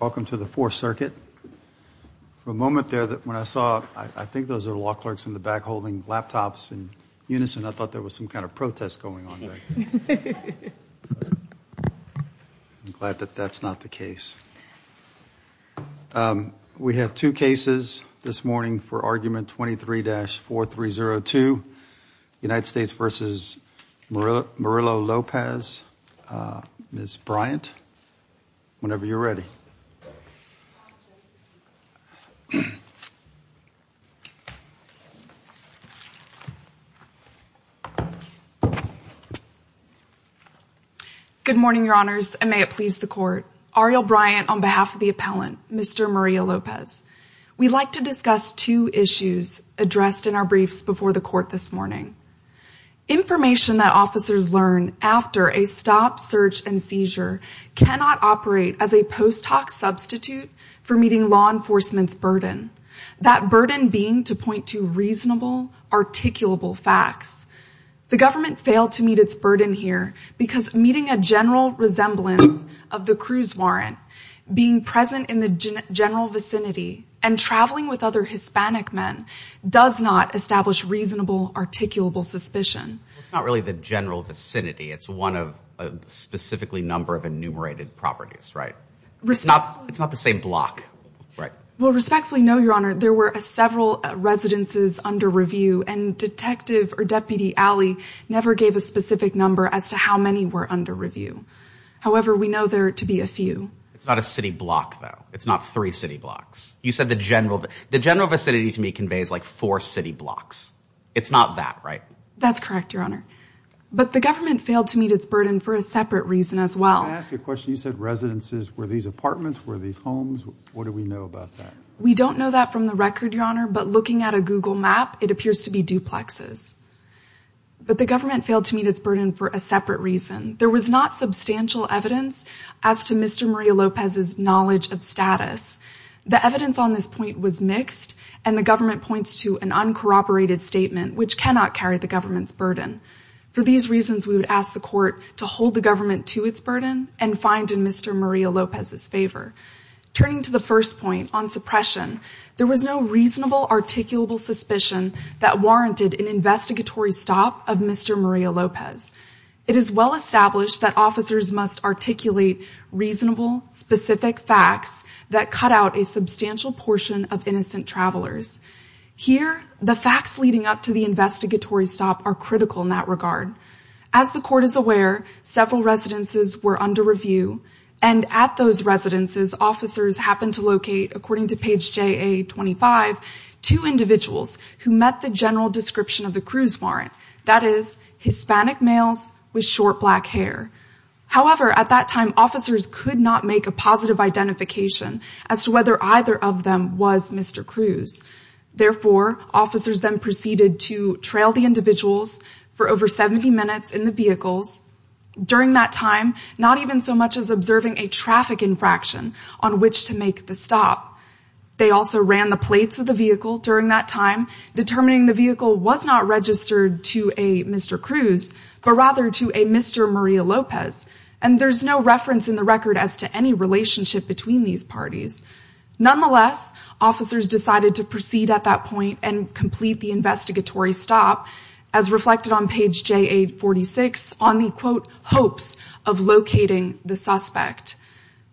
Welcome to the Fourth Circuit. For a moment there that when I saw, I think those are law clerks in the back holding laptops in unison, I thought there was some kind of protest going on. I'm glad that that's not the case. Um, we have two cases this morning for argument 23-4302 United States versus Murillo-Lopez, uh, Ms. Bryant, whenever you're ready. Good morning, your honors. And may it please the court, Ariel Bryant on behalf of the appellant, Mr. Murillo-Lopez. We'd like to discuss two issues addressed in our briefs before the court this morning. Information that officers learn after a stop, search, and seizure cannot operate as a post hoc substitute for meeting law enforcement's burden. That burden being to point to reasonable, articulable facts. The government failed to meet its burden here because meeting a general resemblance of the cruise warrant, being present in the general vicinity and traveling with other Hispanic men does not establish reasonable, articulable suspicion. It's not really the general vicinity. It's one of, uh, specifically number of enumerated properties, right? It's not, it's not the same block, right? Well, respectfully, no, your honor. There were several residences under review and detective or deputy Alley never gave a specific number as to how many were under review. However, we know there to be a few. It's not a city block though. It's not three city blocks. You said the general, the general vicinity to me conveys like four city blocks. It's not that right? That's correct, your honor. But the government failed to meet its burden for a separate reason as well. Can I ask you a question? You said residences, were these apartments, were these homes? What do we know about that? We don't know that from the record, your honor, but looking at a Google map, it appears to be duplexes. But the government failed to meet its burden for a separate reason. There was not substantial evidence as to Mr. Maria Lopez's knowledge of status. The evidence on this point was mixed and the government points to an uncorroborated statement, which cannot carry the government's burden. For these reasons, we would ask the court to hold the government to its burden and find in Mr. Maria Lopez's favor. Turning to the first point on suppression, there was no reasonable articulable suspicion that warranted an investigatory stop of Mr. Maria Lopez. It is well-established that officers must articulate reasonable, specific facts that cut out a substantial portion of innocent travelers. Here, the facts leading up to the investigatory stop are critical in that regard. As the court is aware, several residences were under review and at those residences, officers happened to locate, according to page JA-25, two individuals who met the general description of the Cruz warrant. That is, Hispanic males with short black hair. However, at that time, officers could not make a positive identification as to whether either of them was Mr. Cruz. Therefore, officers then proceeded to trail the individuals for over 70 minutes in the vehicles. During that time, not even so much as observing a traffic infraction on which to make the stop. They also ran the plates of the vehicle during that time, determining the vehicle was not registered to a Mr. Cruz, but rather to a Mr. Maria Lopez. And there's no reference in the record as to any relationship between these parties. Nonetheless, officers decided to proceed at that point and complete the investigatory stop as reflected on page JA-46 on the, quote, hopes of locating the suspect.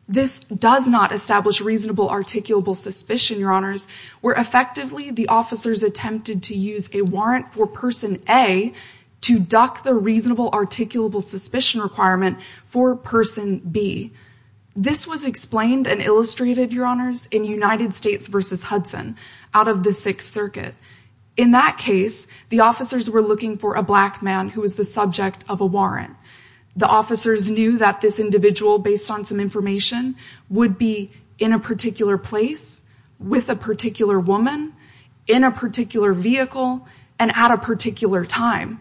This does not establish reasonable articulable suspicion, your honors, where effectively the officers attempted to use a warrant for person A to duck the reasonable articulable suspicion requirement for person B. This was explained and illustrated, your honors, in United States versus Hudson out of the Sixth Circuit. In that case, the officers were looking for a black man who was the subject of a warrant. The officers knew that this individual, based on some information, would be in a particular place with a particular woman in a particular vehicle and at a particular time.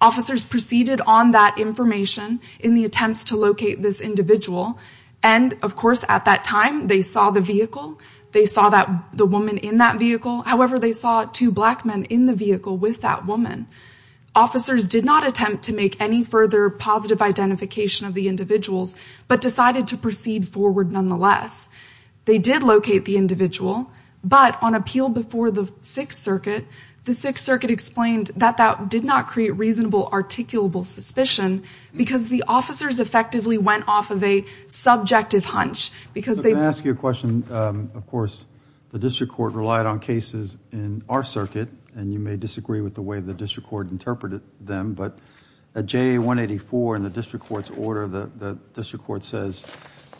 Officers proceeded on that information in the attempts to locate this individual. And of course, at that time, they saw the vehicle. They saw that the woman in that vehicle, however, they saw two black men in the vehicle with that woman. Officers did not attempt to make any further positive identification of the individuals, but decided to proceed forward nonetheless. They did locate the individual, but on appeal before the Sixth Circuit, the Sixth Circuit explained that that did not create reasonable articulable suspicion because the officers effectively went off of a subjective hunch. I'm going to ask you a question. Of course, the district court relied on cases in our circuit, and you may disagree with the way the district court interpreted them, but at JA 184 in the district court's order, the district court says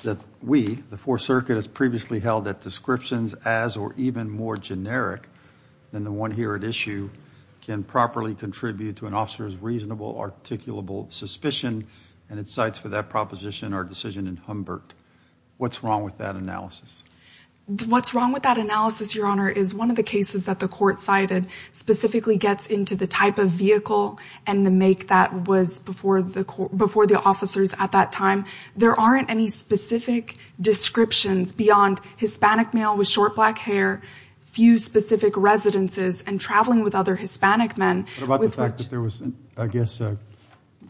that we, the Fourth Circuit, has previously held that descriptions as or even more generic than the one here at can properly contribute to an officer's reasonable articulable suspicion. And it cites for that proposition, our decision in Humbert. What's wrong with that analysis? What's wrong with that analysis, your honor, is one of the cases that the court cited specifically gets into the type of vehicle and the make that was before the court, before the officers at that time, there aren't any specific descriptions beyond Hispanic male with short black hair, few specific residences and traveling with other Hispanic men. What about the fact that there was, I guess, uh,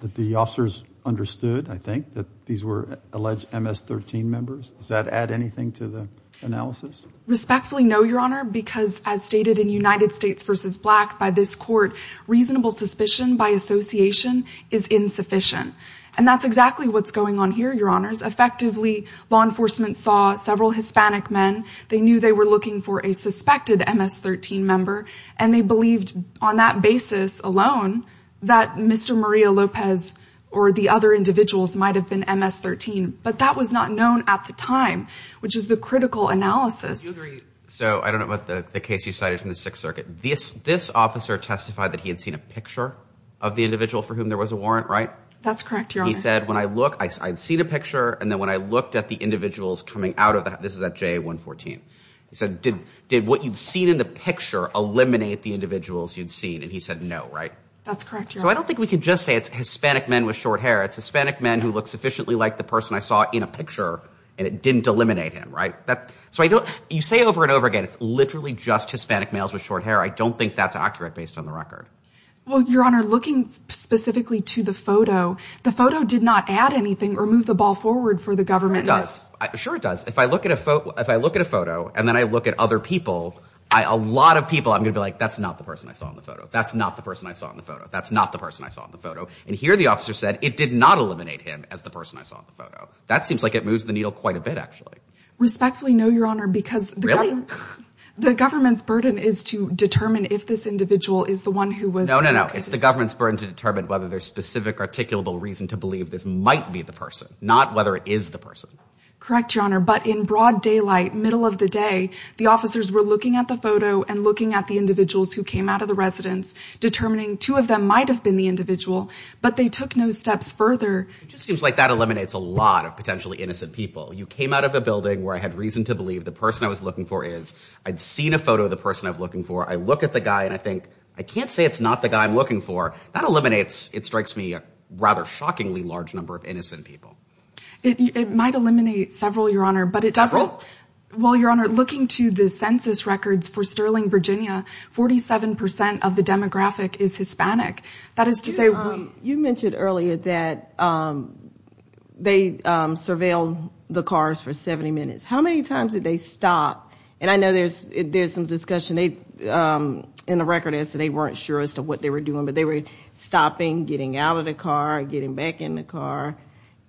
that the officers understood, I think that these were alleged MS 13 members. Does that add anything to the analysis? Respectfully? No, your honor, because as stated in United States versus black by this court, reasonable suspicion by association is insufficient. And that's exactly what's going on here. Your honors effectively law enforcement saw several Hispanic men. They knew they were looking for a suspected MS 13 member. And they believed on that basis alone that Mr. Maria Lopez or the other individuals might've been MS 13, but that was not known at the time, which is the critical analysis. So I don't know about the case you cited from the sixth circuit. This, this officer testified that he had seen a picture of the individual for whom there was a warrant, right? That's correct. Your honor. He said, when I look, I had seen a picture. And then when I looked at the individuals coming out of that, this is at J 114, he said, did, did what you'd seen in the picture eliminate the individuals you'd seen? And he said, no. Right. That's correct. So I don't think we can just say it's Hispanic men with short hair. It's Hispanic men who look sufficiently like the person I saw in a picture and it didn't eliminate him. Right. That's why you don't, you say over and over again, it's literally just Hispanic males with short hair. I don't think that's accurate based on the record. Well, your honor, looking specifically to the photo, the photo did not add anything or move the ball forward for the government. Sure. It does. If I look at a photo, if I look at a photo and then I look at other people, I, a lot of people, I'm going to be like, that's not the person I saw in the photo. That's not the person I saw in the photo. That's not the person I saw in the photo. And here the officer said it did not eliminate him as the person I saw in the That seems like it moves the needle quite a bit, actually. Respectfully. No, your honor, because the government's burden is to determine if this individual is the one who was. No, no, no. It's the government's burden to determine whether there's specific articulable reason to believe this might be the person, not whether it is the person. Your honor. But in broad daylight, middle of the day, the officers were looking at the photo and looking at the individuals who came out of the residence, determining two of them might've been the individual, but they took no steps further. It just seems like that eliminates a lot of potentially innocent people. You came out of a building where I had reason to believe the person I was looking for is, I'd seen a photo of the person I was looking for. I look at the guy and I think, I can't say it's not the guy I'm looking for. That eliminates, it strikes me rather shockingly large number of innocent people. It might eliminate several, your honor, but it doesn't. Well, your honor, looking to the census records for Sterling, Virginia, 47% of the demographic is Hispanic. That is to say. You mentioned earlier that they surveilled the cars for 70 minutes. How many times did they stop? And I know there's, there's some discussion, they, in the record as to they weren't sure as to what they were doing, but they were stopping, getting out of the car, getting back in the car.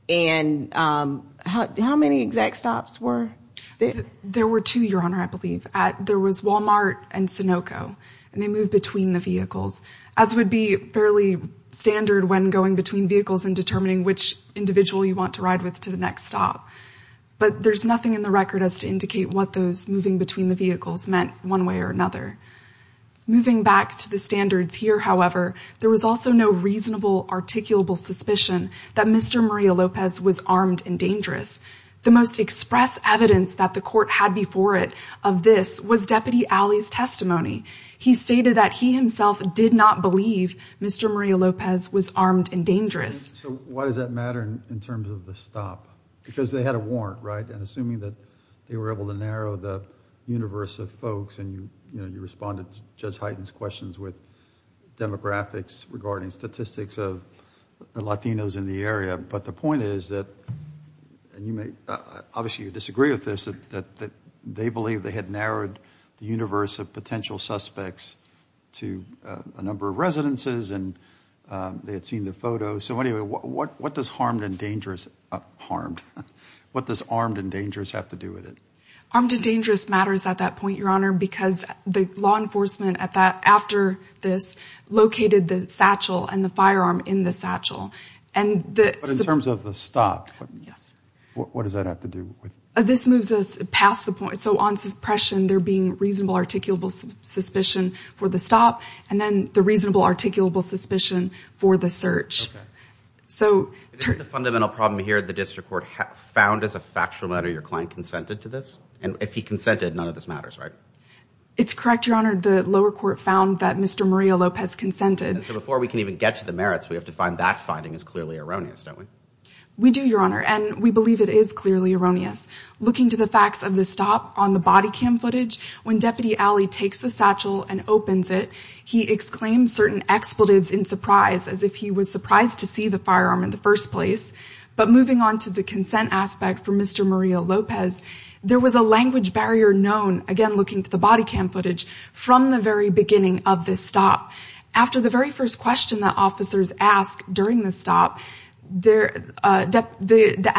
And, um, how, how many exact stops were there? There were two, your honor. I believe at, there was Walmart and Sunoco and they moved between the vehicles as would be fairly standard when going between vehicles and determining which individual you want to ride with to the next stop. But there's nothing in the record as to indicate what those moving between the vehicles meant one way or another. Moving back to the standards here, however, there was also no reasonable articulable suspicion that Mr. Maria Lopez was armed and dangerous. The most express evidence that the court had before it of this was Deputy Alley's testimony. He stated that he himself did not believe Mr. Maria Lopez was armed and dangerous. So why does that matter in terms of the stop? Because they had a warrant, right? And assuming that they were able to narrow the universe of folks and you, you know, you respond to Judge Hyten's questions with demographics regarding statistics of Latinos in the area, but the point is that, and you may, obviously you disagree with this, that, that they believe they had narrowed the universe of potential suspects to a number of residences and they had seen the photos. So anyway, what, what does harmed and dangerous, harmed, what does armed and dangerous have to do with it? Armed and dangerous matters at that point, your honor, because the law located the satchel and the firearm in the satchel. And in terms of the stop, what does that have to do with this? Moves us past the point. So on suppression, there being reasonable articulable suspicion for the stop and then the reasonable articulable suspicion for the search. So the fundamental problem here, the district court found as a factual matter, your client consented to this. And if he consented, none of this matters, right? It's correct, your honor. The lower court found that Mr. Maria Lopez consented. And so before we can even get to the merits, we have to find that finding is clearly erroneous, don't we? We do, your honor. And we believe it is clearly erroneous. Looking to the facts of the stop on the body cam footage, when deputy Allie takes the satchel and opens it, he exclaimed certain expletives in surprise as if he was surprised to see the firearm in the first place, but moving on to the consent aspect for Mr. Maria Lopez, there was a language barrier known again, looking to the body cam footage from the very beginning of this stop. After the very first question that officers ask during the stop, the deputy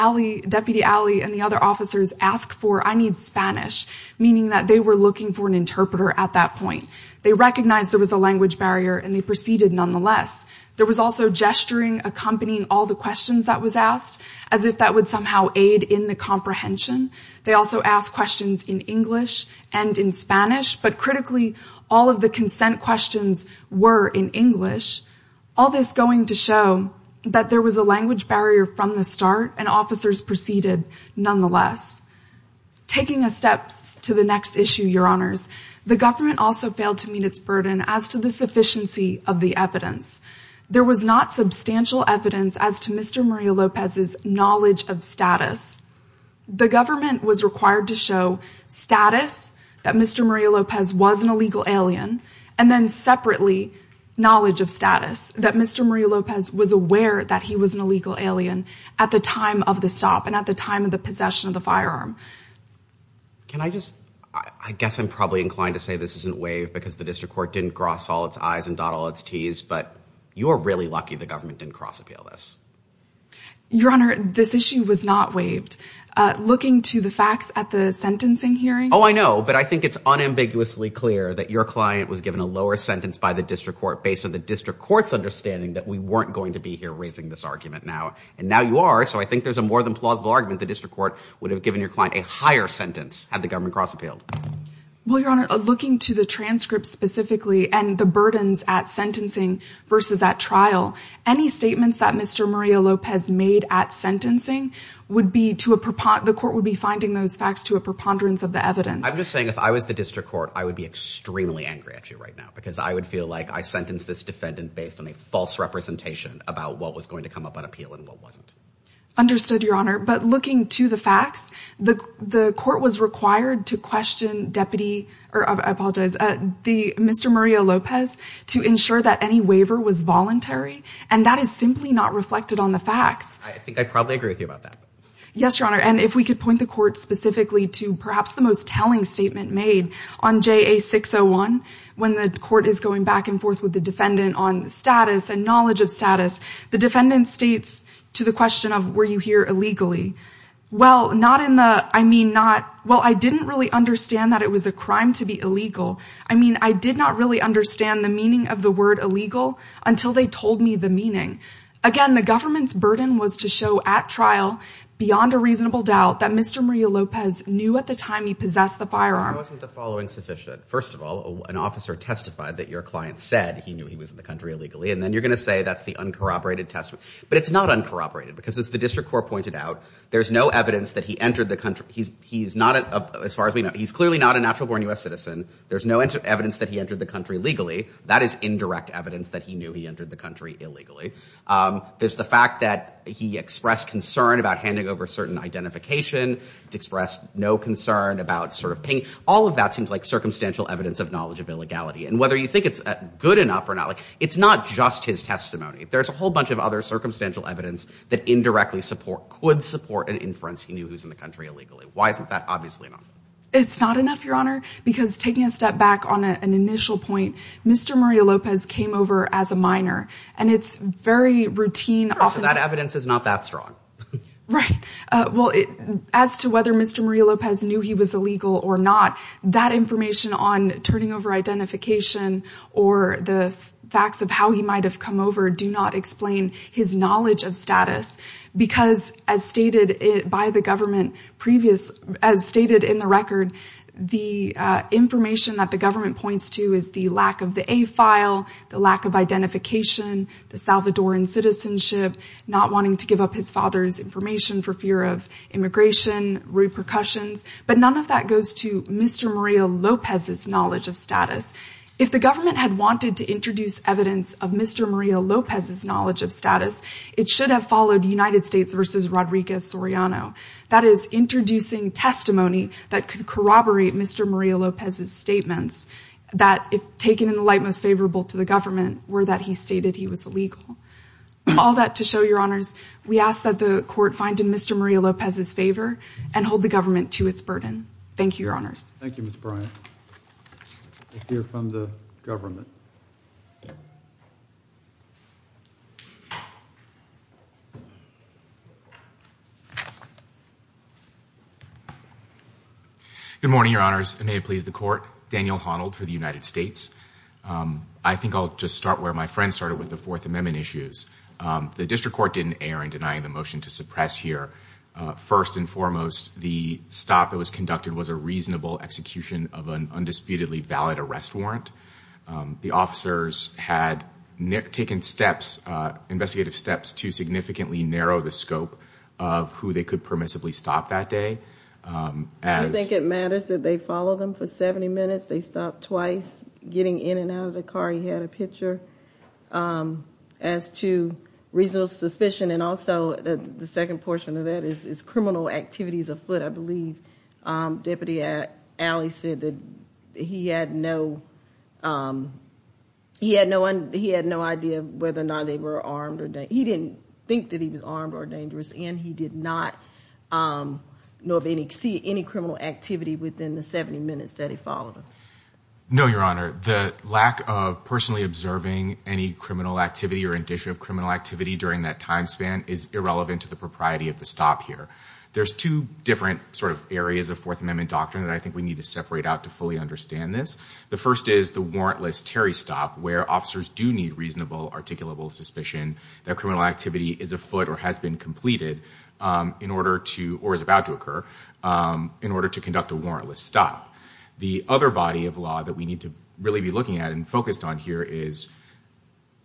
Allie and the other officers ask for, I need Spanish, meaning that they were looking for an interpreter at that point. They recognized there was a language barrier and they proceeded nonetheless. There was also gesturing, accompanying all the questions that was asked as if that would somehow aid in the comprehension. They also asked questions in English and in Spanish, but critically, all of the consent questions were in English. All this going to show that there was a language barrier from the start and officers proceeded nonetheless. Taking a step to the next issue, your honors, the government also failed to meet its burden as to the sufficiency of the evidence. There was not substantial evidence as to Mr. Maria Lopez's knowledge of status. The government was required to show status that Mr. Maria Lopez was an illegal alien. And then separately, knowledge of status that Mr. Maria Lopez was aware that he was an illegal alien at the time of the stop. And at the time of the possession of the firearm. Can I just, I guess I'm probably inclined to say this isn't waived because the district court didn't cross all its I's and dot all its T's, but you are really lucky the government didn't cross appeal this. Your honor, this issue was not waived. Looking to the facts at the sentencing hearing. Oh, I know, but I think it's unambiguously clear that your client was given a lower sentence by the district court based on the district court's understanding that we weren't going to be here raising this argument now. And now you are. So I think there's a more than plausible argument. The district court would have given your client a higher sentence had the government cross appealed. Well, your honor, looking to the transcripts specifically and the burdens at sentencing versus at trial, any statements that Mr. Maria Lopez made at sentencing would be to a, the court would be finding those facts to a preponderance of the evidence. I'm just saying if I was the district court, I would be extremely angry at you right now, because I would feel like I sentenced this defendant based on a false representation about what was going to come up on appeal and what wasn't. Understood your honor. But looking to the facts, the court was required to question deputy or I apologize, uh, the Mr. Maria Lopez to ensure that any waiver was voluntary. And that is simply not reflected on the facts. I think I probably agree with you about that. Yes, your honor. And if we could point the court specifically to perhaps the most telling statement made on JA 601, when the court is going back and forth with the defendant on status and knowledge of status, the defendant states to the question of, were you here illegally? Well, not in the, I mean, not, well, I didn't really understand that it was a crime to be illegal. I mean, I did not really understand the meaning of the word illegal until they told me the meaning. Again, the government's burden was to show at trial beyond a reasonable doubt that Mr. Maria Lopez knew at the time he possessed the firearm, wasn't the following sufficient. First of all, an officer testified that your client said he knew he was in the country illegally. And then you're going to say that's the uncorroborated test, but it's not uncorroborated because as the district court pointed out, there's no evidence that he entered the country. He's, he's not as far as we know, he's clearly not a natural born us citizen. There's no evidence that he entered the country legally. That is indirect evidence that he knew he entered the country illegally. Um, there's the fact that he expressed concern about handing over certain identification to express no concern about sort of pain. All of that seems like circumstantial evidence of knowledge of illegality. And whether you think it's good enough or not, like it's not just his testimony. There's a whole bunch of other circumstantial evidence that indirectly support could support an inference. He knew who's in the country illegally. Why isn't that obviously enough? It's not enough your honor, because taking a step back on an initial point, Mr. Maria Lopez came over as a minor and it's very routine. Sure, but that evidence is not that strong. Right. Uh, well, as to whether Mr. Maria Lopez knew he was illegal or not, that information on turning over identification or the facts of how he might've come over, do not explain his knowledge of status because as stated by the government previous, as stated in the record, the, uh, information that the government points to is the lack of the a file, the lack of identification, the Salvadoran citizenship, not wanting to give up his father's information for fear of immigration repercussions, but none of that goes to Mr. Maria Lopez's knowledge of status. If the government had wanted to introduce evidence of Mr. Maria Lopez's knowledge of status, it should have followed United States versus Rodriguez Soriano. That is introducing testimony that could corroborate Mr. Maria Lopez's statements. That if taken in the light, most favorable to the government were that he stated he was illegal. All that to show your honors, we ask that the court find in Mr. Maria Lopez's favor and hold the government to its burden. Thank you, your honors. Thank you, Ms. Bryant. Let's hear from the government. Good morning, your honors. And may it please the court, Daniel Honnold for the United States. Um, I think I'll just start where my friend started with the fourth amendment issues. Um, the district court didn't err in denying the motion to suppress here. Uh, first and foremost, the stop that was conducted was a reasonable execution of an undisputedly valid arrest warrant. Um, the officers had taken steps, uh, investigative steps to significantly narrow the scope of who they could permissibly stop that day. Um, I think it matters that they follow them for 70 minutes. They stopped twice getting in and out of the car. He had a picture, um, as to reasonable suspicion. And also the second portion of that is criminal activities afoot. I believe, um, deputy at Allie said that he had no, um, he had no one. He had no idea whether or not they were armed or that he didn't think that he was armed or dangerous. And he did not, um, know of any, see any criminal activity within the 70 minutes that he followed them. No, your honor, the lack of personally observing any criminal activity or indicia of criminal activity during that time span is irrelevant to the propriety of the stop here. There's two different sort of areas of fourth amendment doctrine that I think we need to separate out to fully understand this, the first is the warrantless Terry stop where officers do need reasonable articulable suspicion that criminal activity is afoot or has been completed, um, in order to, or is about to occur, um, in order to conduct a warrantless stop. The other body of law that we need to really be looking at and focused on here is,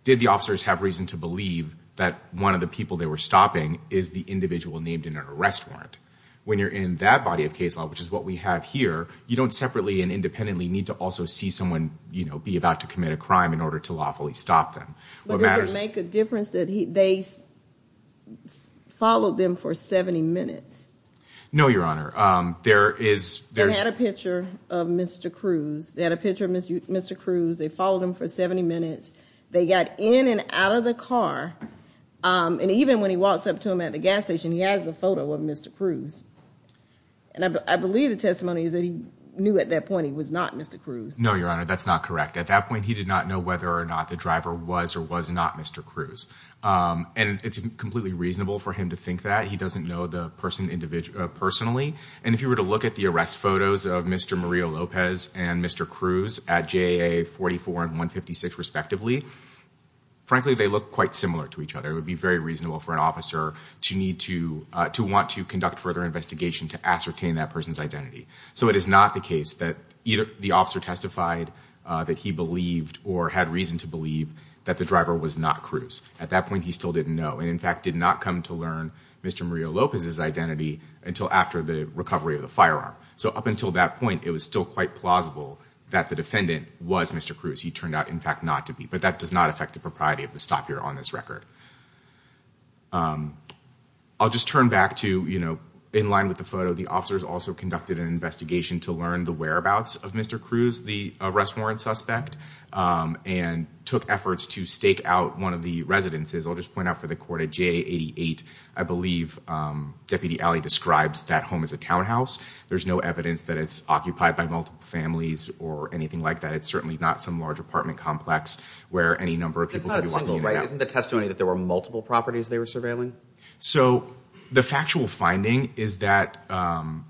did the officers have reason to believe that one of the people they were stopping is the individual named in an arrest warrant when you're in that body of case law, which is what we have here, you don't separately and independently need to also see someone, you know, be about to commit a crime in order to lawfully stop them. But does it make a difference that he, they followed them for 70 minutes? No, your honor. Um, there is, they had a picture of Mr. Cruz. They had a picture of Mr. Mr. Cruz. They followed him for 70 minutes. They got in and out of the car. Um, and even when he walks up to him at the gas station, he has the photo of Mr. Cruz. And I believe the testimony is that he knew at that point he was not Mr. Cruz. No, your honor. That's not correct. At that point, he did not know whether or not the driver was or was not Mr. Cruz. Um, and it's completely reasonable for him to think that he doesn't know the person individually, personally. And if you were to look at the arrest photos of Mr. Maria Lopez and Mr. Cruz at JAA 44 and 156 respectively, frankly, they look quite similar to each other. It would be very reasonable for an officer to need to, uh, to want to conduct further investigation to ascertain that person's identity. So it is not the case that either the officer testified, uh, that he believed or had reason to believe that the driver was not Cruz. At that point, he still didn't know. And in fact, did not come to learn Mr. Maria Lopez's identity until after the recovery of the firearm. So up until that point, it was still quite plausible that the defendant was Mr. Cruz. He turned out in fact not to be, but that does not affect the propriety of the stop here on this record. Um, I'll just turn back to, you know, in line with the photo, the officers also conducted an investigation to learn the whereabouts of Mr. Cruz, the arrest warrant suspect, um, and took efforts to stake out one of the residences. I'll just point out for the court at JAA 88, I believe, um, Deputy Alley describes that home as a townhouse. There's no evidence that it's occupied by multiple families or anything like that. It's certainly not some large apartment complex where any number of people could be walking in and out. Isn't the testimony that there were multiple properties they were surveilling? So the factual finding is that, um,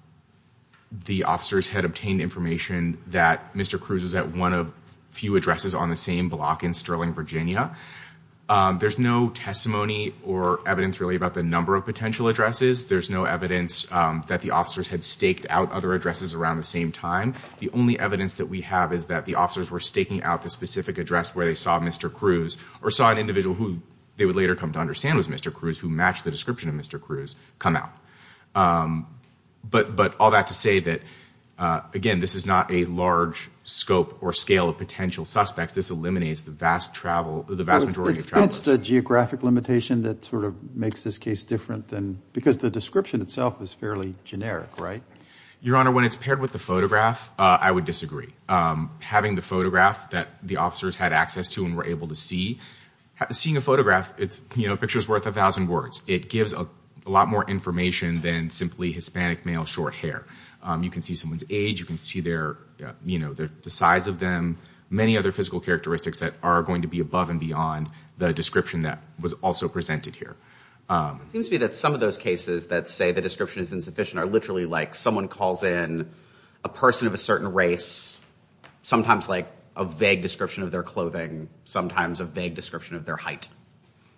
the officers had obtained information that Mr. Cruz was at one of few addresses on the same block in Sterling, Virginia. Um, there's no testimony or evidence really about the number of potential addresses. There's no evidence, um, that the officers had staked out other addresses around the same time. The only evidence that we have is that the officers were staking out the specific address where they saw Mr. Cruz or saw an individual who they would later come to understand was Mr. Cruz who matched the description of Mr. Cruz come out. Um, but, but all that to say that, uh, again, this is not a large scope or scale of potential suspects. This eliminates the vast travel, the vast majority of travel, the geographic limitation that sort of makes this case different than, because the description itself is fairly generic, right? Your Honor, when it's paired with the photograph, uh, I would disagree. Um, having the photograph that the officers had access to and were able to see, seeing a photograph, it's, you know, a picture is worth a thousand words. It gives a lot more information than simply Hispanic male, short hair. Um, you can see someone's age. You can see their, you know, their, the size of them, many other physical characteristics that are going to be above and beyond the description that was also presented here. Um, it seems to me that some of those cases that say the description is insufficient are literally like someone calls in a person of a certain race, sometimes like a vague description of their clothing, sometimes a vague description of their height.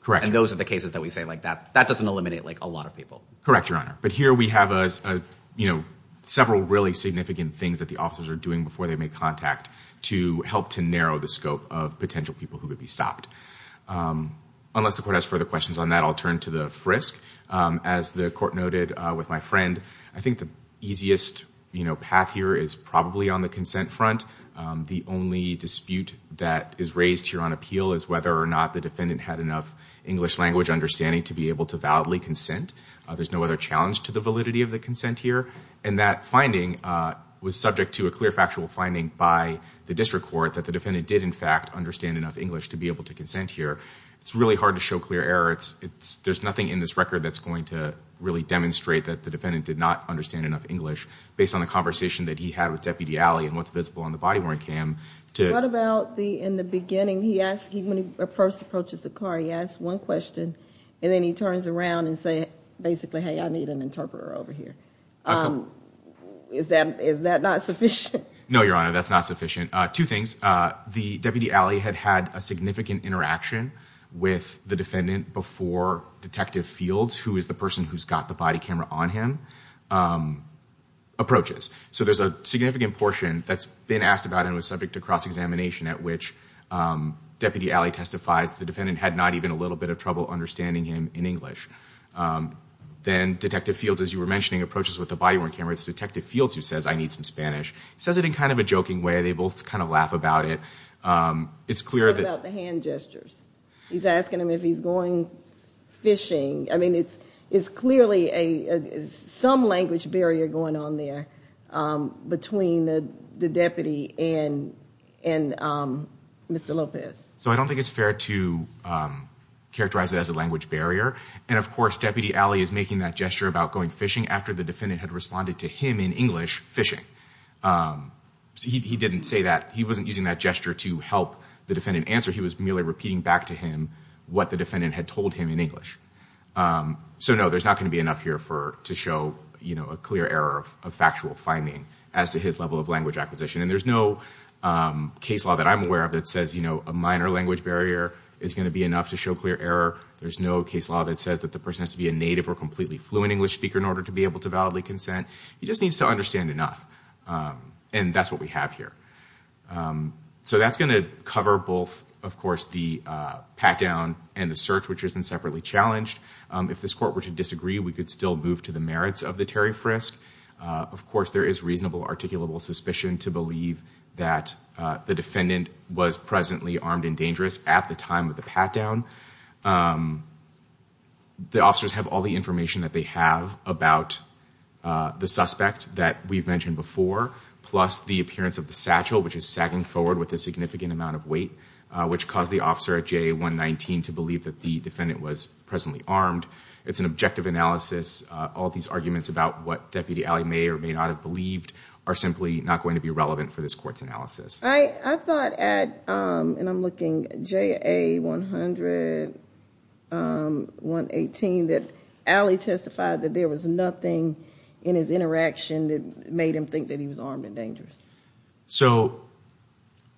Correct. And those are the cases that we say like that, that doesn't eliminate like a lot of people. Your Honor. But here we have, uh, uh, you know, several really significant things that the officers are doing before they make contact to help to narrow the scope of potential people who could be stopped. Um, unless the court has further questions on that, I'll turn to the frisk. Um, as the court noted, uh, with my friend, I think the easiest, you know, path here is probably on the consent front. Um, the only dispute that is raised here on appeal is whether or not the defendant had enough English language understanding to be able to validly consent. Uh, there's no other challenge to the validity of the consent here. And that finding, uh, was subject to a clear factual finding by the district court that the defendant did in fact understand enough English to be able to consent here. It's really hard to show clear error. It's, it's, there's nothing in this record that's going to really demonstrate that the defendant did not understand enough English based on the conversation that he had with Deputy Alley and what's visible on the body wearing cam to... What about the, in the beginning, he asked, when he first approaches the car, he asked one question and then he turns around and say, basically, Hey, I need an interpreter over here. Um, is that, is that not sufficient? No, Your Honor. That's not sufficient. Uh, two things. Uh, the Deputy Alley had had a significant interaction with the defendant before Detective Fields, who is the person who's got the body camera on him, um, approaches. So there's a significant portion that's been asked about and was subject to cross-examination at which, um, Deputy Alley testifies the defendant had not even a little bit of trouble understanding him in English. Um, then Detective Fields, as you were mentioning, approaches with the body wearing camera. It's Detective Fields who says, I need some Spanish. He says it in kind of a joking way. They both kind of laugh about it. Um, it's clear that... What about the hand gestures? He's asking him if he's going fishing. I mean, it's, it's clearly a, some language barrier going on there. Um, between the, the deputy and, and, um, Mr. Lopez. So I don't think it's fair to, um, characterize it as a language barrier. And of course, Deputy Alley is making that gesture about going fishing after the defendant had responded to him in English, fishing. Um, he, he didn't say that he wasn't using that gesture to help the defendant answer. He was merely repeating back to him what the defendant had told him in English. Um, so no, there's not going to be enough here for, to show, you know, a clear error of, of factual finding as to his level of language acquisition. And there's no, um, case law that I'm aware of that says, you know, a minor language barrier is going to be enough to show clear error. There's no case law that says that the person has to be a native or completely fluent English speaker in order to be able to validly consent. He just needs to understand enough. Um, and that's what we have here. Um, so that's going to cover both, of course, the, uh, pat down and the search, which isn't separately challenged. Um, if this court were to disagree, we could still move to the merits of the preliminary frisk. Uh, of course there is reasonable articulable suspicion to believe that, uh, the defendant was presently armed and dangerous at the time of the pat down. Um, the officers have all the information that they have about, uh, the suspect that we've mentioned before, plus the appearance of the satchel, which is sagging forward with a significant amount of weight, uh, which caused the officer at JA 119 to believe that the defendant was presently armed. It's an objective analysis. Uh, all of these arguments about what deputy Allie may or may not have believed are simply not going to be relevant for this court's analysis. I thought at, um, and I'm looking at JA 100, um, 118, that Allie testified that there was nothing in his interaction that made him think that he was armed and So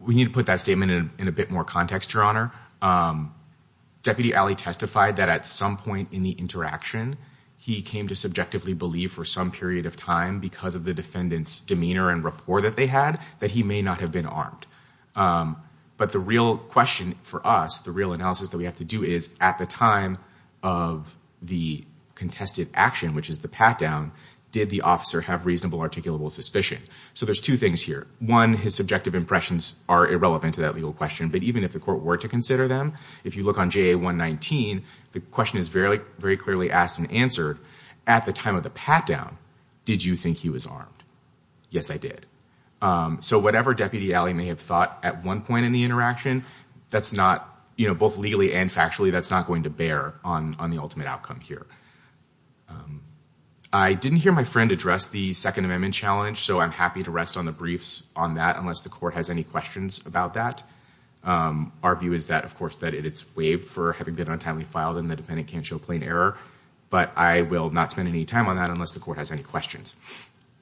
we need to put that statement in a bit more context, Your Honor. Um, deputy Allie testified that at some point in the interaction, he came to subjectively believe for some period of time because of the defendant's demeanor and rapport that they had, that he may not have been armed. Um, but the real question for us, the real analysis that we have to do is at the time of the contested action, which is the pat down, did the officer have reasonable articulable suspicion? So there's two things here. One, his subjective impressions are irrelevant to that legal question. But even if the court were to consider them, if you look on JA 119, the question is very, very clearly asked and answered at the time of the pat down, did you think he was armed? Yes, I did. Um, so whatever deputy Allie may have thought at one point in the interaction, that's not, you know, both legally and factually, that's not going to bear on, on the ultimate outcome here. Um, I didn't hear my friend address the second amendment challenge. So I'm happy to rest on the briefs on that unless the court has any questions about that. Um, our view is that of course that it's waived for having been untimely filed and the defendant can't show plain error, but I will not spend any time on that unless the court has any questions.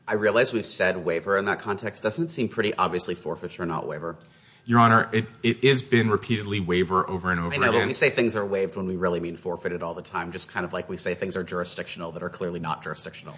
I realized we've said waiver in that context doesn't seem pretty obviously forfeiture or not waiver. Your honor, it is been repeatedly waiver over and over again. I know, but we say things are waived when we really mean forfeited all the time. Just kind of like we say things are jurisdictional that are clearly not jurisdictional.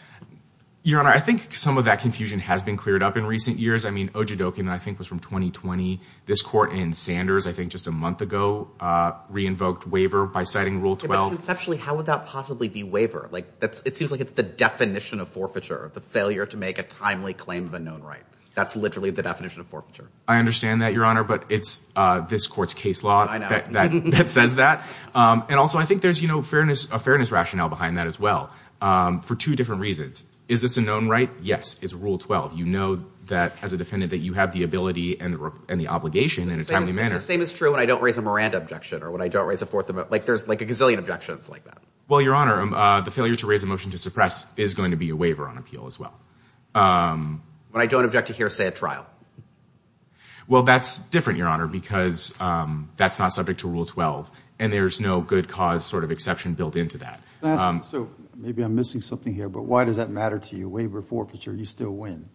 Your honor, I think some of that confusion has been cleared up in recent years. I mean, Ojedoke and I think was from 2020. This court in Sanders, I think just a month ago, uh, re-invoked waiver by citing rule 12. But conceptually, how would that possibly be waiver? Like that's, it seems like it's the definition of forfeiture, the failure to make a timely claim of a known right. That's literally the definition of forfeiture. I understand that your honor, but it's, uh, this court's case law that says that. Um, and also I think there's, you know, fairness, a fairness rationale behind that as well. Um, for two different reasons, is this a known right? Yes. It's rule 12. You know, that as a defendant that you have the ability and the obligation in a timely manner. The same is true when I don't raise a Miranda objection or when I don't raise a fourth amendment. Like there's like a gazillion objections like that. Well, your honor, um, uh, the failure to raise a motion to suppress is going to be a waiver on appeal as well. Um, when I don't object to hearsay at trial. Well, that's different, your honor, because, um, that's not subject to rule 12 and there's no good cause sort of exception built into that. So maybe I'm missing something here, but why does that matter to you? Waiver forfeiture, you still win.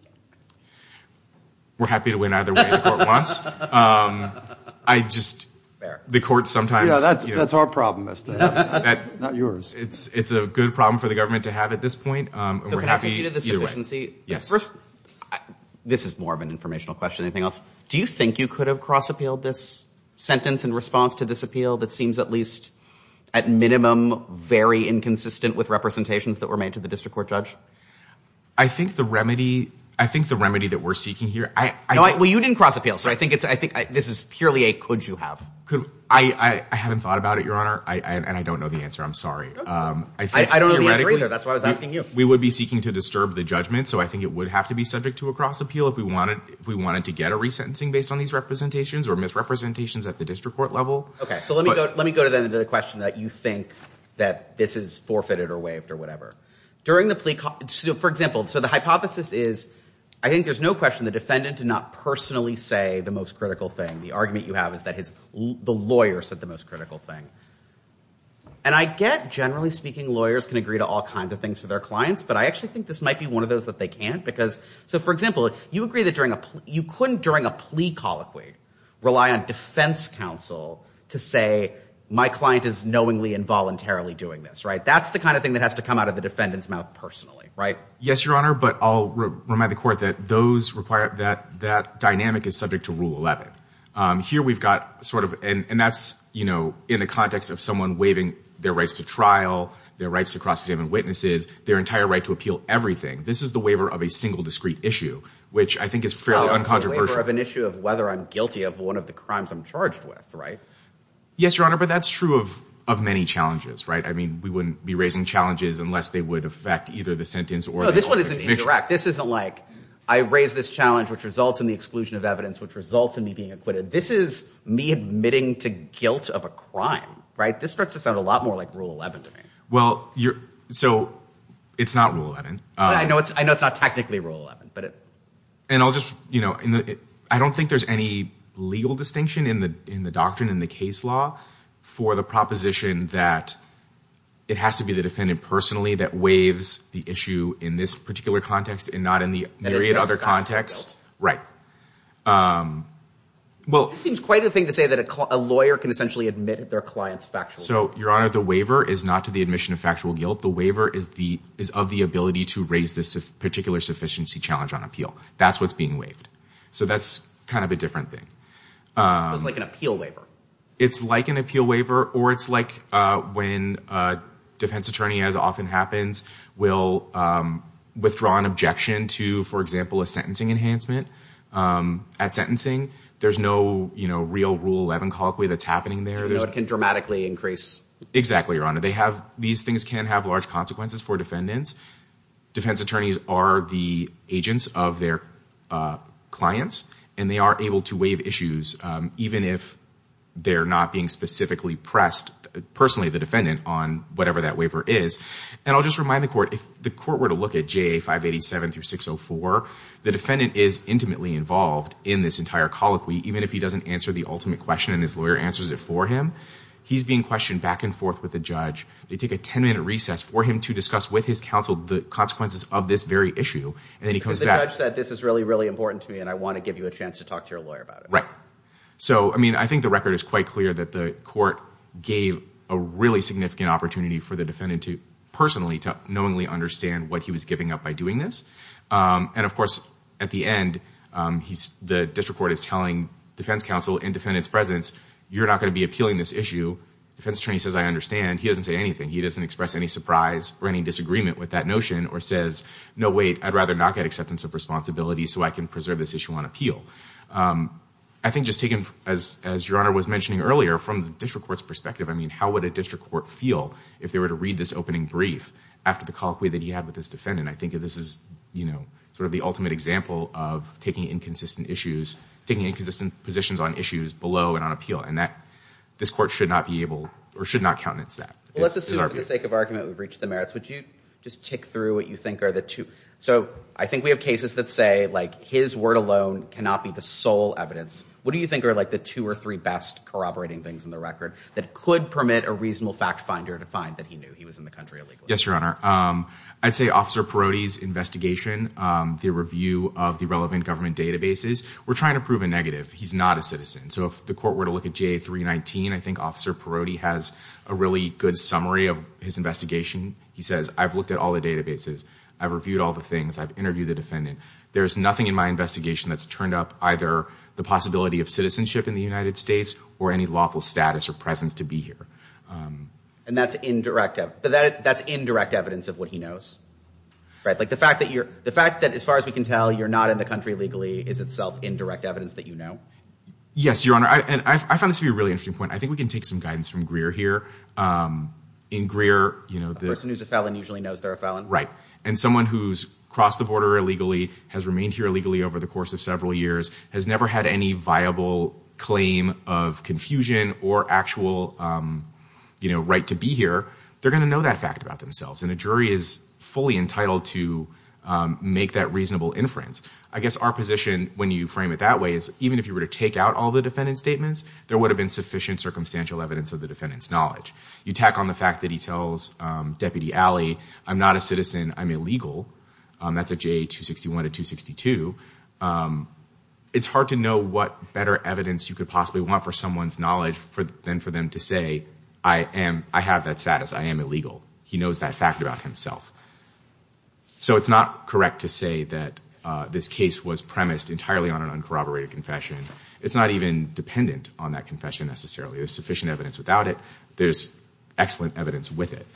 We're happy to win either way the court wants. Um, I just, the court sometimes that's, that's our problem. That's not yours. It's, it's a good problem for the government to have at this point. Um, this is more of an informational question. Anything else? Do you think you could have cross appealed this sentence in response to this appeal? That seems at least at minimum, very inconsistent with representations that were made to the district court judge. I think the remedy, I think the remedy that we're seeking here, I know I, well, you didn't cross appeal. So I think it's, I think this is purely a, could you have, could I, I haven't thought about it, your honor. I, and I don't know the answer. I'm sorry. Um, I think we would be seeking to disturb the judgment. So I think it would have to be subject to a cross appeal if we wanted, if we wanted to get a resentencing based on these representations or misrepresentations at the district court level. Okay. So let me go, let me go to the end of the question that you think that this is forfeited or waived or whatever. During the plea, for example, so the hypothesis is, I think there's no question, the defendant did not personally say the most critical thing. The argument you have is that his, the lawyer said the most critical thing. And I get, generally speaking, lawyers can agree to all kinds of things for their clients, but I actually think this might be one of those that they can't because, so for example, you agree that during a, you couldn't, during a plea colloquy, rely on defense counsel to say, my client is knowingly involuntarily doing this, right? That's the kind of thing that has to come out of the defendant's mouth personally. Right? Yes, your honor. But I'll remind the court that those require that, that dynamic is subject to rule 11. Um, here we've got sort of, and that's, you know, in the context of someone waiving their rights to trial, their rights to cross-examine witnesses, their entire right to appeal everything. This is the waiver of a single discreet issue, which I think is fairly uncontroversial. It's a waiver of an issue of whether I'm guilty of one of the crimes I'm charged with, right? Yes, your honor. But that's true of, of many challenges, right? I mean, we wouldn't be raising challenges unless they would affect either the sentence or... This isn't like I raised this challenge, which results in the exclusion of evidence, which results in me being acquitted. This is me admitting to guilt of a crime, right? This starts to sound a lot more like rule 11 to me. Well, you're, so it's not rule 11. I know it's, I know it's not technically rule 11, but it. And I'll just, you know, I don't think there's any legal distinction in the, in the doctrine, in the case law for the proposition that it has to be the defendant personally that waives the issue in this particular context and not in the myriad other contexts. Um, well, it seems quite a thing to say that a lawyer can essentially admit their clients factually. So your honor, the waiver is not to the admission of factual guilt. The waiver is the, is of the ability to raise this particular sufficiency challenge on appeal. That's what's being waived. So that's kind of a different thing. Um, it's like an appeal waiver or it's like, uh, when, uh, defense attorney, as often happens, will, um, withdraw an objection to, for example, a sentencing enhancement. Um, at sentencing, there's no, you know, real rule 11 colloquy that's happening there. There's no, it can dramatically increase. Exactly. Your honor. They have, these things can have large consequences for defendants. Defense attorneys are the agents of their, uh, clients and they are able to waive issues, um, even if they're not being specifically pressed personally, the defendant on whatever that waiver is. And I'll just remind the court. If the court were to look at JA 587 through 604, the defendant is intimately involved in this entire colloquy, even if he doesn't answer the ultimate question and his lawyer answers it for him, he's being questioned back and forth with the judge. They take a 10 minute recess for him to discuss with his counsel, the consequences of this very issue. And then he comes back. The judge said, this is really, really important to me. And I want to give you a chance to talk to your lawyer about it. Right. So, I mean, I think the record is quite clear that the court gave a really significant opportunity for the defendant to personally, to knowingly understand what he was giving up by doing this. Um, and of course at the end, um, he's, the district court is telling defense counsel and defendant's presence, you're not going to be appealing this issue. Defense attorney says, I understand. He doesn't say anything. He doesn't express any surprise or any disagreement with that notion or says, no, wait, I'd rather not get acceptance of responsibility so I can preserve this issue on appeal. Um, I think just taking as, as your honor was mentioning earlier from the district court's perspective, I mean, how would a district court feel if they were to read this opening brief after the colloquy that he had with his defendant, I think this is, you know, sort of the ultimate example of taking inconsistent issues, taking inconsistent positions on issues below and on appeal. And that this court should not be able, or should not countenance that. Well, let's assume for the sake of argument, we've reached the merits. Would you just tick through what you think are the two? So I think we have cases that say like his word alone cannot be the sole evidence. What do you think are like the two or three best corroborating things in the record that could permit a reasonable fact finder to find that he knew he was in the country illegally? Yes, your honor. Um, I'd say officer Perotti's investigation, um, the review of the relevant government databases. We're trying to prove a negative. He's not a citizen. So if the court were to look at GA 319, I think officer Perotti has a really good summary of his investigation. He says, I've looked at all the databases. I've reviewed all the things I've interviewed the defendant. There is nothing in my investigation that's turned up either the possibility of citizenship in the United States or any lawful status or presence to be here. Um, and that's indirect, but that's indirect evidence of what he knows, right? Like the fact that you're, the fact that as far as we can tell, you're not in the country legally is itself indirect evidence that, you know, yes, your honor. I, and I found this to be a really interesting point. I think we can take some guidance from Greer here. Um, in Greer, you know, the person who's a felon usually knows they're a felon, right? And someone who's crossed the border illegally has remained here illegally over the course of several years, has never had any viable claim of confusion or actual, um, you know, right to be here. They're going to know that fact about themselves. And a jury is fully entitled to, um, make that reasonable inference. I guess our position when you frame it that way is even if you were to take out all the defendant's statements, there would have been sufficient circumstantial evidence of the defendant's knowledge. You tack on the fact that he tells, um, deputy Allie, I'm not a citizen. I'm illegal. Um, that's a JA 261 to 262. Um, it's hard to know what better evidence you could possibly want for someone's knowledge for them, for them to say, I am, I have that status. I am illegal. He knows that fact about himself. So it's not correct to say that, uh, this case was premised entirely on an uncorroborated confession. It's not even dependent on that confession necessarily. There's sufficient evidence without it. There's excellent evidence with it.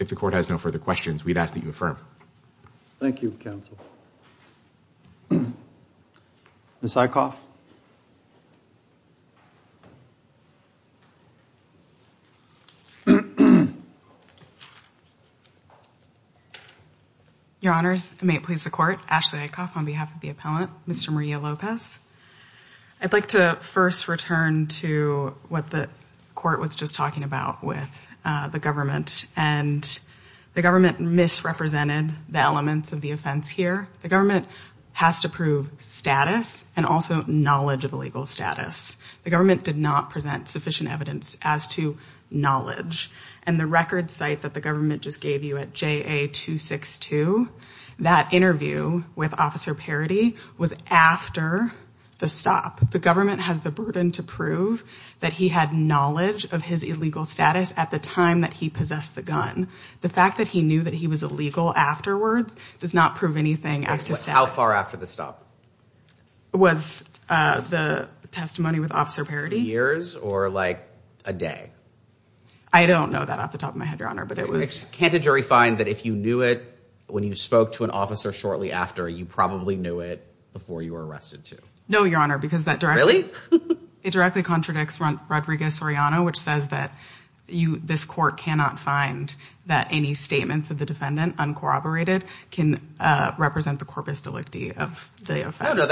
If the court has no further questions, we'd ask that you affirm. Thank you, counsel. Ms. Eickhoff. Your honors, may it please the court. Ashley Eickhoff on behalf of the appellant, Mr. Maria Lopez. I'd like to first return to what the court was just talking about with the government and the government misrepresented the elements of the offense here. The government has to prove status and also knowledge of illegal status. The government did not present sufficient evidence as to knowledge and the record site that the government just gave you at JA 262, that interview with officer Parity was after the stop. The government has the burden to prove that he had knowledge of his illegal status at the time that he possessed the gun. The fact that he knew that he was illegal afterwards does not prove anything as to status. How far after the stop? Was, uh, the testimony with officer Parity. Years or like a day? I don't know that off the top of my head, your honor, but it was. Can't a jury find that if you knew it, when you spoke to an officer shortly after, you probably knew it before you were arrested too? No, your honor, because that directly, it directly contradicts Rodriguez which says that you, this court cannot find that any statements of the defendant uncorroborated can, uh, represent the corpus delicti of the offense.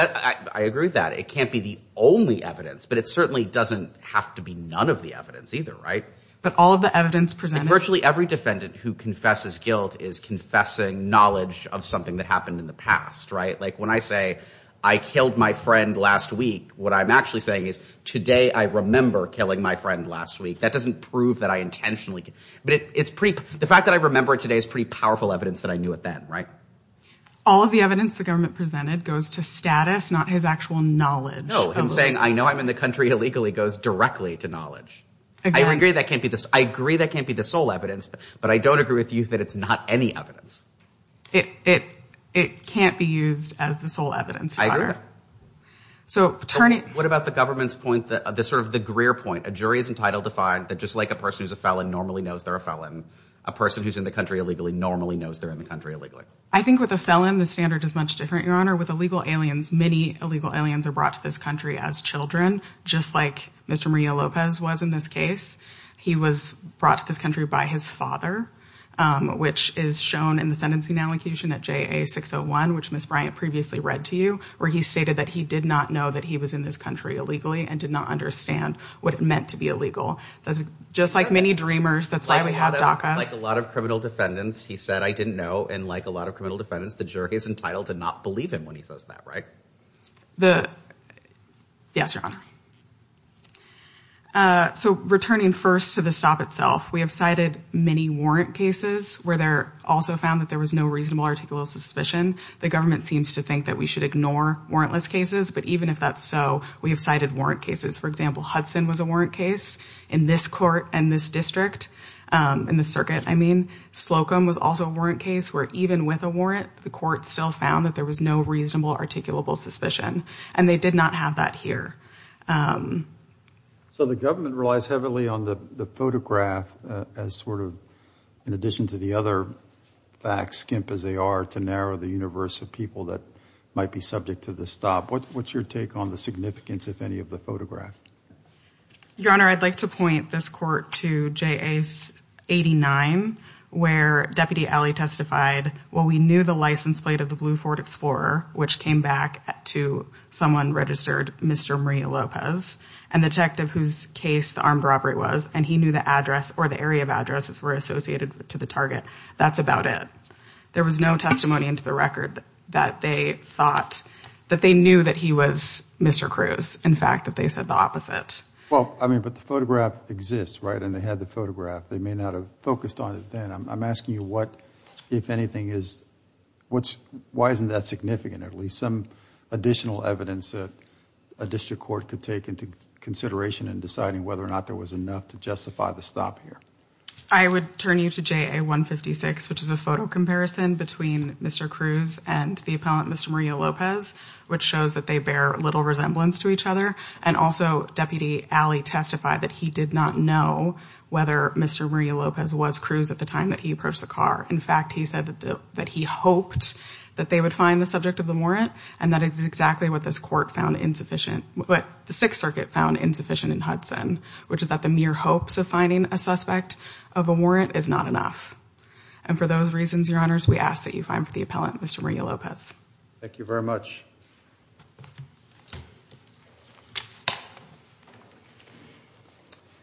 I agree with that. It can't be the only evidence, but it certainly doesn't have to be none of the evidence either. Right. But all of the evidence presented, virtually every defendant who confesses guilt is confessing knowledge of something that happened in the past. Right? Like when I say I killed my friend last week, what I'm actually saying is today, I remember killing my friend last week. That doesn't prove that I intentionally, but it's pretty, the fact that I remember it today is pretty powerful evidence that I knew it then, right? All of the evidence the government presented goes to status, not his actual knowledge. No, him saying, I know I'm in the country illegally goes directly to knowledge. I agree that can't be this. I agree that can't be the sole evidence, but I don't agree with you that it's not any evidence. It, it, it can't be used as the sole evidence, your honor. So turning, what about the government's point that this sort of the Greer point, a jury is entitled to find that just like a person who's a felon normally knows they're a felon, a person who's in the country illegally normally knows they're in the country illegally. I think with a felon, the standard is much different, your honor. With illegal aliens, many illegal aliens are brought to this country as children, just like Mr. Maria Lopez was in this case. He was brought to this country by his father, which is shown in the sentencing allocation at JA 601, which Ms. Bryant previously read to you, where he stated that he did not know that he was in this country illegally and did not understand what it meant to be illegal. That's just like many dreamers. That's why we have DACA. Like a lot of criminal defendants. He said, I didn't know. And like a lot of criminal defendants, the jury is entitled to not believe him when he says that, right? The, yes, your honor. Uh, so returning first to the stop itself, we have cited many warrant cases where they're also found that there was no reasonable articulable suspicion, the government seems to think that we should ignore warrantless cases. But even if that's so, we have cited warrant cases. For example, Hudson was a warrant case in this court and this district, um, in the circuit. I mean, Slocum was also a warrant case where even with a warrant, the court still found that there was no reasonable articulable suspicion and they did not have that here. Um, so the government relies heavily on the photograph, uh, as sort of, in the universe of people that might be subject to the stop. What, what's your take on the significance of any of the photograph? Your honor. I'd like to point this court to Jace 89, where deputy Allie testified. Well, we knew the license plate of the blue Ford Explorer, which came back to someone registered Mr. Maria Lopez and the detective whose case the armed robbery was. And he knew the address or the area of addresses were associated to the target. That's about it. There was no testimony into the record that they thought that they knew that he was Mr. In fact, that they said the opposite. Well, I mean, but the photograph exists, right? And they had the photograph. They may not have focused on it then. I'm asking you what, if anything is, what's, why isn't that significant? At least some additional evidence that a district court could take into consideration in deciding whether or not there was enough to justify the stop here. I would turn you to JA 156, which is a photo comparison between Mr. Cruz and the appellant, Mr. Maria Lopez, which shows that they bear little resemblance to each other. And also deputy Allie testified that he did not know whether Mr. Maria Lopez was Cruz at the time that he approached the car. In fact, he said that he hoped that they would find the subject of the warrant. And that is exactly what this court found insufficient, what the sixth circuit found insufficient in Hudson, which is that the mere hopes of finding a suspect of a warrant is not enough. And for those reasons, your honors, we ask that you find for the appellant, Mr. Maria Lopez. Thank you very much.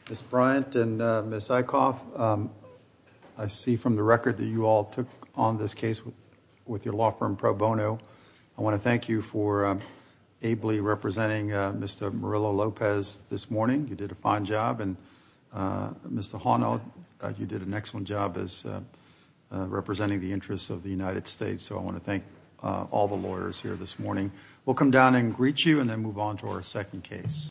Ms. Bryant and Ms. Eickhoff, I see from the record that you all took on this case with your law firm, Pro Bono, I want to thank you for ably representing Mr. Murillo Lopez this morning. You did a fine job and Mr. Hono, you did an excellent job as representing the interests of the United States. So I want to thank all the lawyers here this morning. We'll come down and greet you and then move on to our second case.